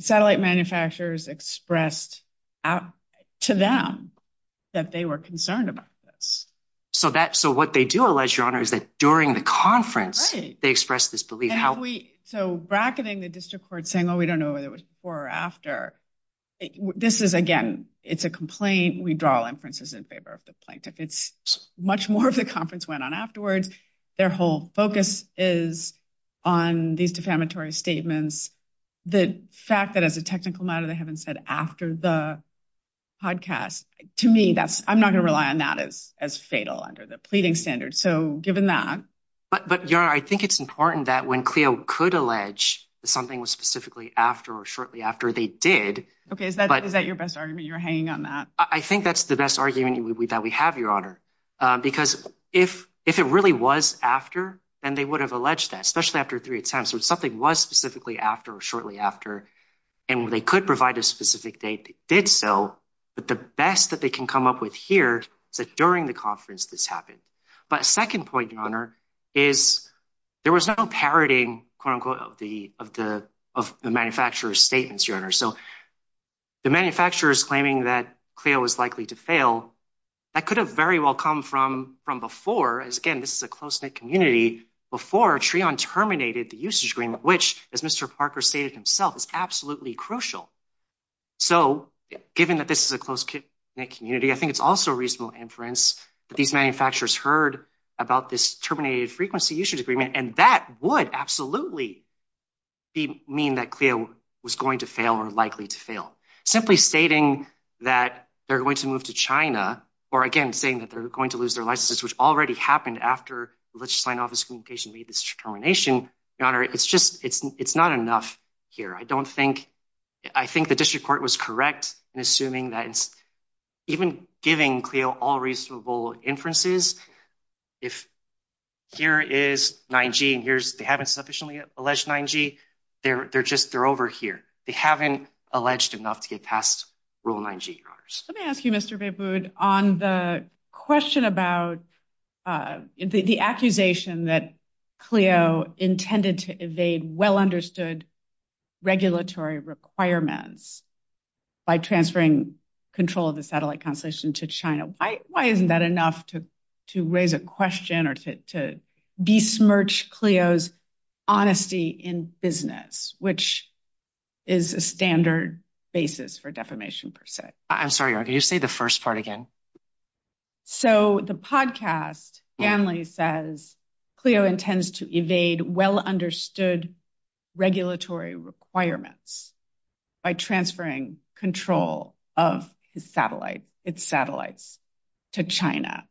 satellite manufacturers expressed to them that they were concerned about this. So that, so what they do allege, Your Honor, is that during the conference they expressed this belief. So bracketing the district court saying, oh, we don't know whether it was before or after, this is, again, it's a complaint. We draw all inferences in favor of the plaintiff. It's, much more of the conference went on afterwards. Their whole focus is on these defamatory statements. The fact that as a technical matter they haven't said after the podcast, to me, that's, I'm not going to rely on that as, as fatal under the pleading standard. So given that. But, but Your Honor, I think it's important that when CLIO could allege that something was specifically after or shortly after, they did. Okay, is that, is that your best argument? You're hanging on that. I think that's the best argument that we have, Your Honor, because if, if it really was after, then they would have alleged that, especially after three attempts, when something was specifically after or shortly after, and they could provide a specific date they did so, but the best that they can come up with here is that during the conference this happened. But a second point, Your Honor, is there was no parodying, quote unquote, of the, of the, of the manufacturer's statements, Your Honor. So the manufacturers claiming that CLIO was likely to fail, that could have very well come from, from before, as again, this is a close-knit community, before TRION terminated the usage agreement, which, as Mr. Parker stated himself, is absolutely crucial. So given that this is a close-knit community, I think it's also reasonable inference that these manufacturers heard about this terminated frequency usage agreement, and that would absolutely be, mean that CLIO was going to fail or likely to fail. Simply stating that they're going to move to China, or again, saying that they're going to lose their licenses, which already happened after the Legislative Science Office of Communication made this determination, Your Honor, it's just, it's, it's not enough here. I don't think, I think the District Court was correct in assuming that even giving CLIO all reasonable inferences, if here is 9G and here's, they haven't sufficiently alleged 9G, they're, they're just, they're over here. They haven't alleged enough to get past Rule 9G, Your Honors. Let me ask you, Mr. Behbood, on the question about the accusation that CLIO intended to evade well understood regulatory requirements by transferring control of the Satellite Constellation to China. Why, why isn't that enough to, to raise a question or to besmirch CLIO's honesty in business, which is a standard basis for defamation per se? I'm sorry, Your Honor, can you say the first part again? So the podcast, Stanley says, CLIO intends to evade well understood regulatory requirements by transferring control of his satellite, its satellites to China.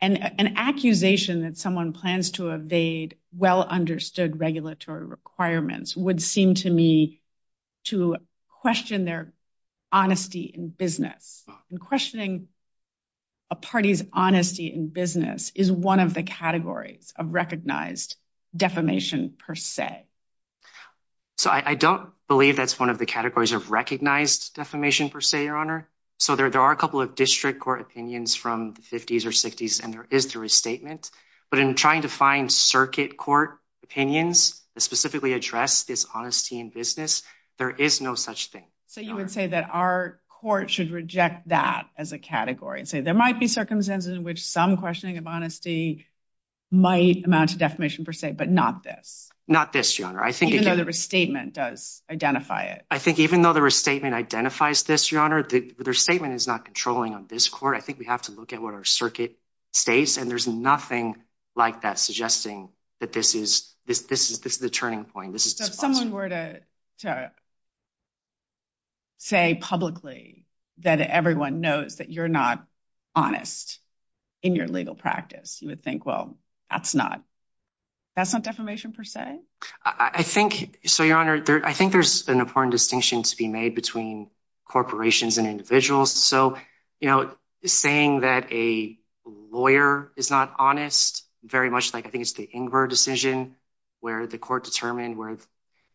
And an accusation that someone plans to evade well understood regulatory requirements would seem to me to question their honesty in business. And questioning a party's honesty in business is one of the categories of recognized defamation per se. So I don't believe that's one of the categories of recognized defamation per se, Your Honor. So there, there are a couple of district court opinions from the fifties or sixties, and there is the restatement, but in trying to find circuit court opinions that specifically address this honesty in business, there is no such thing. So you would say that our court should reject that as a category and say, there might be circumstances in which some questioning of honesty might amount to defamation per se, but not this? Not this, Your Honor. I think- Even though the restatement does identify it. I think even though the restatement identifies this, Your Honor, the restatement is not controlling on this court. I think we have to look at what our circuit states, and there's nothing like that suggesting that this is the turning point. So if someone were to say publicly that everyone knows that you're not honest in your legal practice, you would think, well, that's not, that's not defamation per se? I think, so Your Honor, I think there's an important distinction to be made between corporations and individuals. So, you know, saying that a lawyer is not honest, very much like, I think it's the Ingrer decision where the court determined where,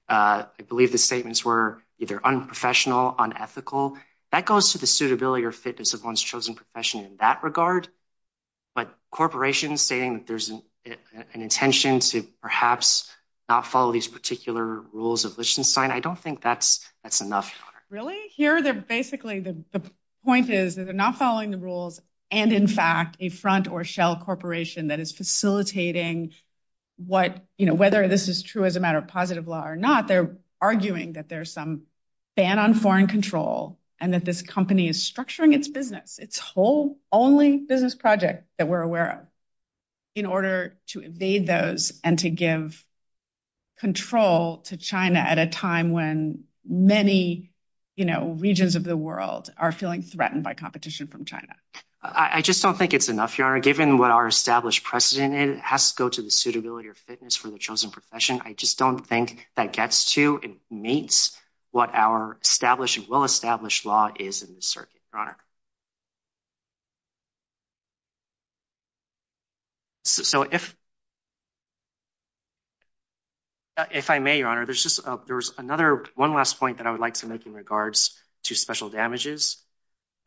I believe the statements were either unprofessional, unethical, that goes to the suitability or fitness of one's chosen profession in that regard. But corporations stating that there's an intention to perhaps not follow these particular rules of Lichtenstein, I don't think that's, that's enough, Your Honor. Really? Here, they're basically, the point is they're not following the rules. And in fact, a front or shell corporation that is facilitating what, you know, whether this is true as a matter of positive law or not, they're arguing that there's some ban on foreign control, and that this company is structuring its business, its whole only business project that we're aware of, in order to evade those and to give control to China at a time when many, you know, regions of the world are feeling threatened by competition from China. I just don't think it's enough, Your Honor. Given what our established precedent is, it has to go to the suitability or fitness for the chosen profession. I just don't think that gets to and meets what our established and well-established law is in the circuit, Your Honor. So if, if I may, Your Honor, there's just, there's another, one last point that I would like to make in regards to special damages.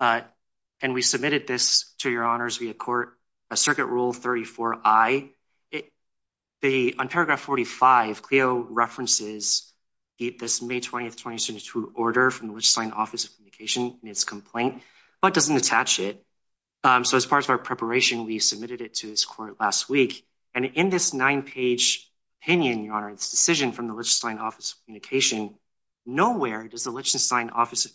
And we submitted this to Your Honor's via court, a Circuit Rule 34I. It, the, on paragraph 45, CLEO references this May 20th, 2022 order from the Legislative Science Office of Communication in its complaint, but doesn't attach it. So as part of our preparation, we submitted it to this court last week. And in this nine-page opinion, Your Honor, this decision from the Legislative Science Office of Communication, nowhere does the Legislative Science Office of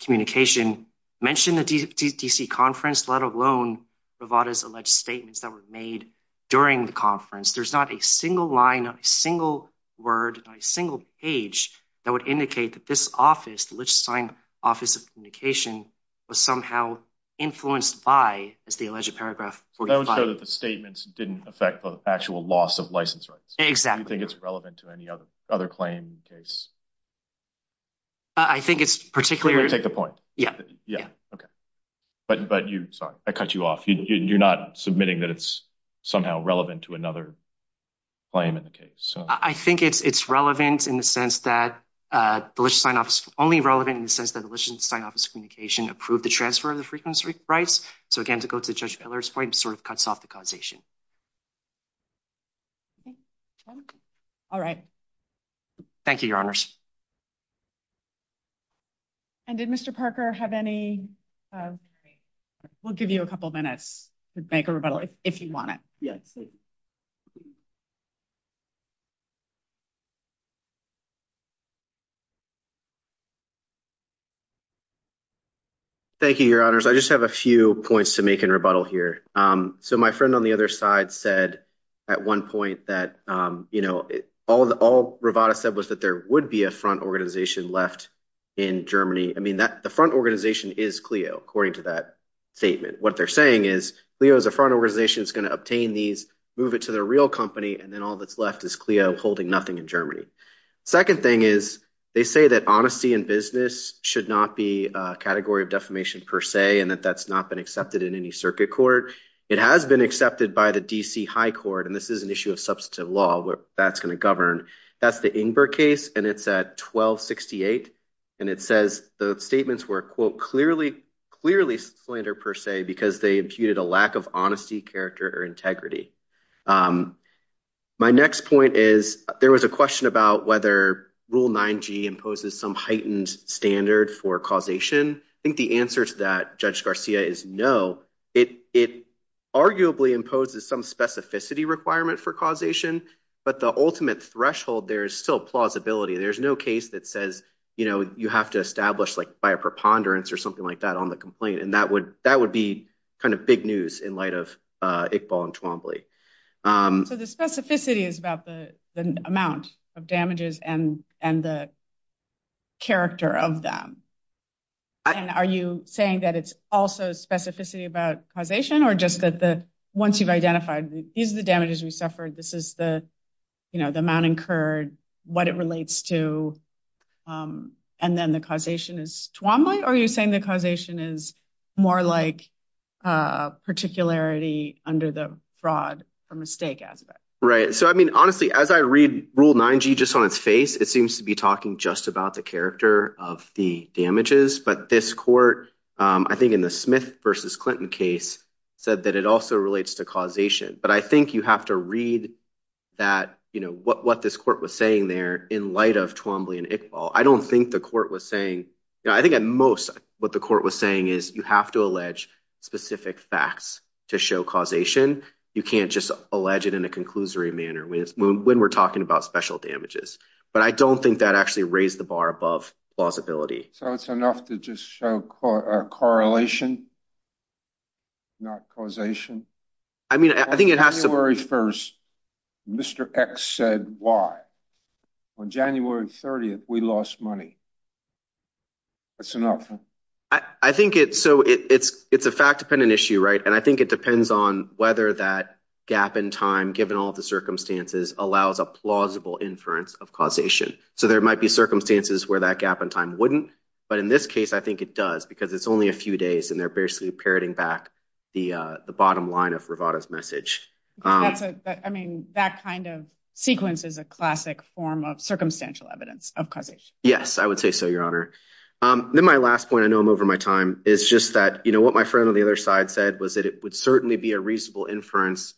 Communication mention the DC conference, let alone Rivada's alleged statements that were made during the conference. There's not a single line, a single word, a single page that would indicate that this office, the Legislative Science Office of Communication, was somehow influenced by, as the alleged paragraph 45. That would show that the statements didn't affect the actual loss of license rights. Exactly. Do you think it's relevant to any other claim case? I think it's particularly... Let me take the point. Yeah. Yeah. Okay. But, but you, sorry, I cut you off. You're not submitting that it's somehow relevant to another claim in the case. I think it's, it's relevant in the sense that the Legislative Science Office, only relevant in the sense that the Legislative Science Office of Communication approved the transfer of the frequency rights. So again, to go to Judge Miller's point, it sort of cuts off the causation. Okay. All right. Thank you, Your Honors. And did Mr. Parker have any... We'll give you a couple of minutes to make a rebuttal if you want it. Yes. Thank you, Your Honors. I just have a few points to make in rebuttal here. So my friend on the other side said at one point that all Rivada said was that there would be a front organization left in Germany. I mean, the front organization is Clio, according to that statement. What they're saying is Clio is a front organization that's going to obtain these, move it to the real company, and then all that's left is Clio holding nothing in Germany. Second thing is they say that honesty in business should not be a category of defamation per se, and that that's not been accepted in any circuit court. It has been accepted by the DC High Court, and this is an issue of substantive law where that's going to govern. That's the Ingber case, and it's at 1268, and it says the statements were, quote, clearly slander per se because they imputed a lack of honesty, character, or integrity. My next point is there was a question about whether Rule 9G imposes some heightened standard for causation. I think the answer to that, Judge Garcia, is no. It arguably imposes some specificity requirement for causation, but the ultimate threshold there is still plausibility. There's no case that says, you know, you have to establish, like, by a preponderance or something like that on the complaint, and that would be kind of big news in light of Iqbal and Twombly. So the specificity is about the amount of damages and the character of them, and are you saying that it's also specificity about causation, or just that once you've identified these are the damages we suffered, this is the, you know, the amount incurred, what it relates to, and then the causation is Twombly, or are you saying the causation is more like particularity under the fraud or mistake aspect? Right. So, I mean, honestly, as I read Rule 9G just on its face, it seems to be talking just about the character of the damages, but this court, I think in the Smith versus Clinton case, said that it also relates to causation. But I think you have to read that, you know, what this court was saying there in light of Twombly and Iqbal. I don't think the court was saying, you know, I think at most what the court was saying is you have to allege specific facts to show causation. You can't just allege it in a conclusory manner when we're talking about special damages. But I don't think that actually raised the bar above plausibility. So, it's enough to just show correlation, not causation? I mean, I think it has to be… On January 1st, Mr. X said Y. On January 30th, we lost money. That's enough. I think it's a fact-dependent issue, right? And I think it depends on whether that gap in time, given all the circumstances, allows a plausible inference of causation. So, there might be circumstances where that gap in time wouldn't, but in this case, I think it does because it's only a few days and they're basically parroting back the bottom line of Rivada's message. I mean, that kind of sequence is a classic form of circumstantial evidence of causation. Yes, I would say so, Your Honor. Then my last point, I know I'm over my time, is just that, you know, what my friend on the other side said was that it would certainly be a reasonable inference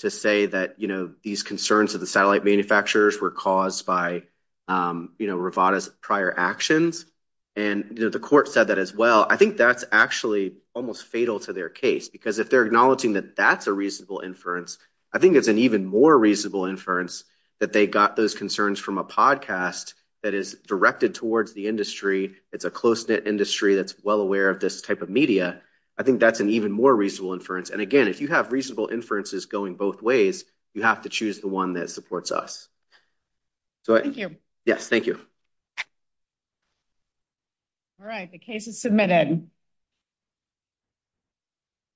to say that, you know, these concerns of the satellite manufacturers were caused by, you know, Rivada's prior actions. And, you know, the court said that as well. I think that's actually almost fatal to their case because if they're acknowledging that that's a reasonable inference, I think it's an even more reasonable inference that they got those concerns from a podcast that is directed towards the industry. It's a close-knit industry that's well aware of this type of media. I think that's an even more reasonable inference. And again, if you have reasonable inferences going both ways, you have to choose the one that supports us. Thank you. Yes, thank you. All right, the case is submitted.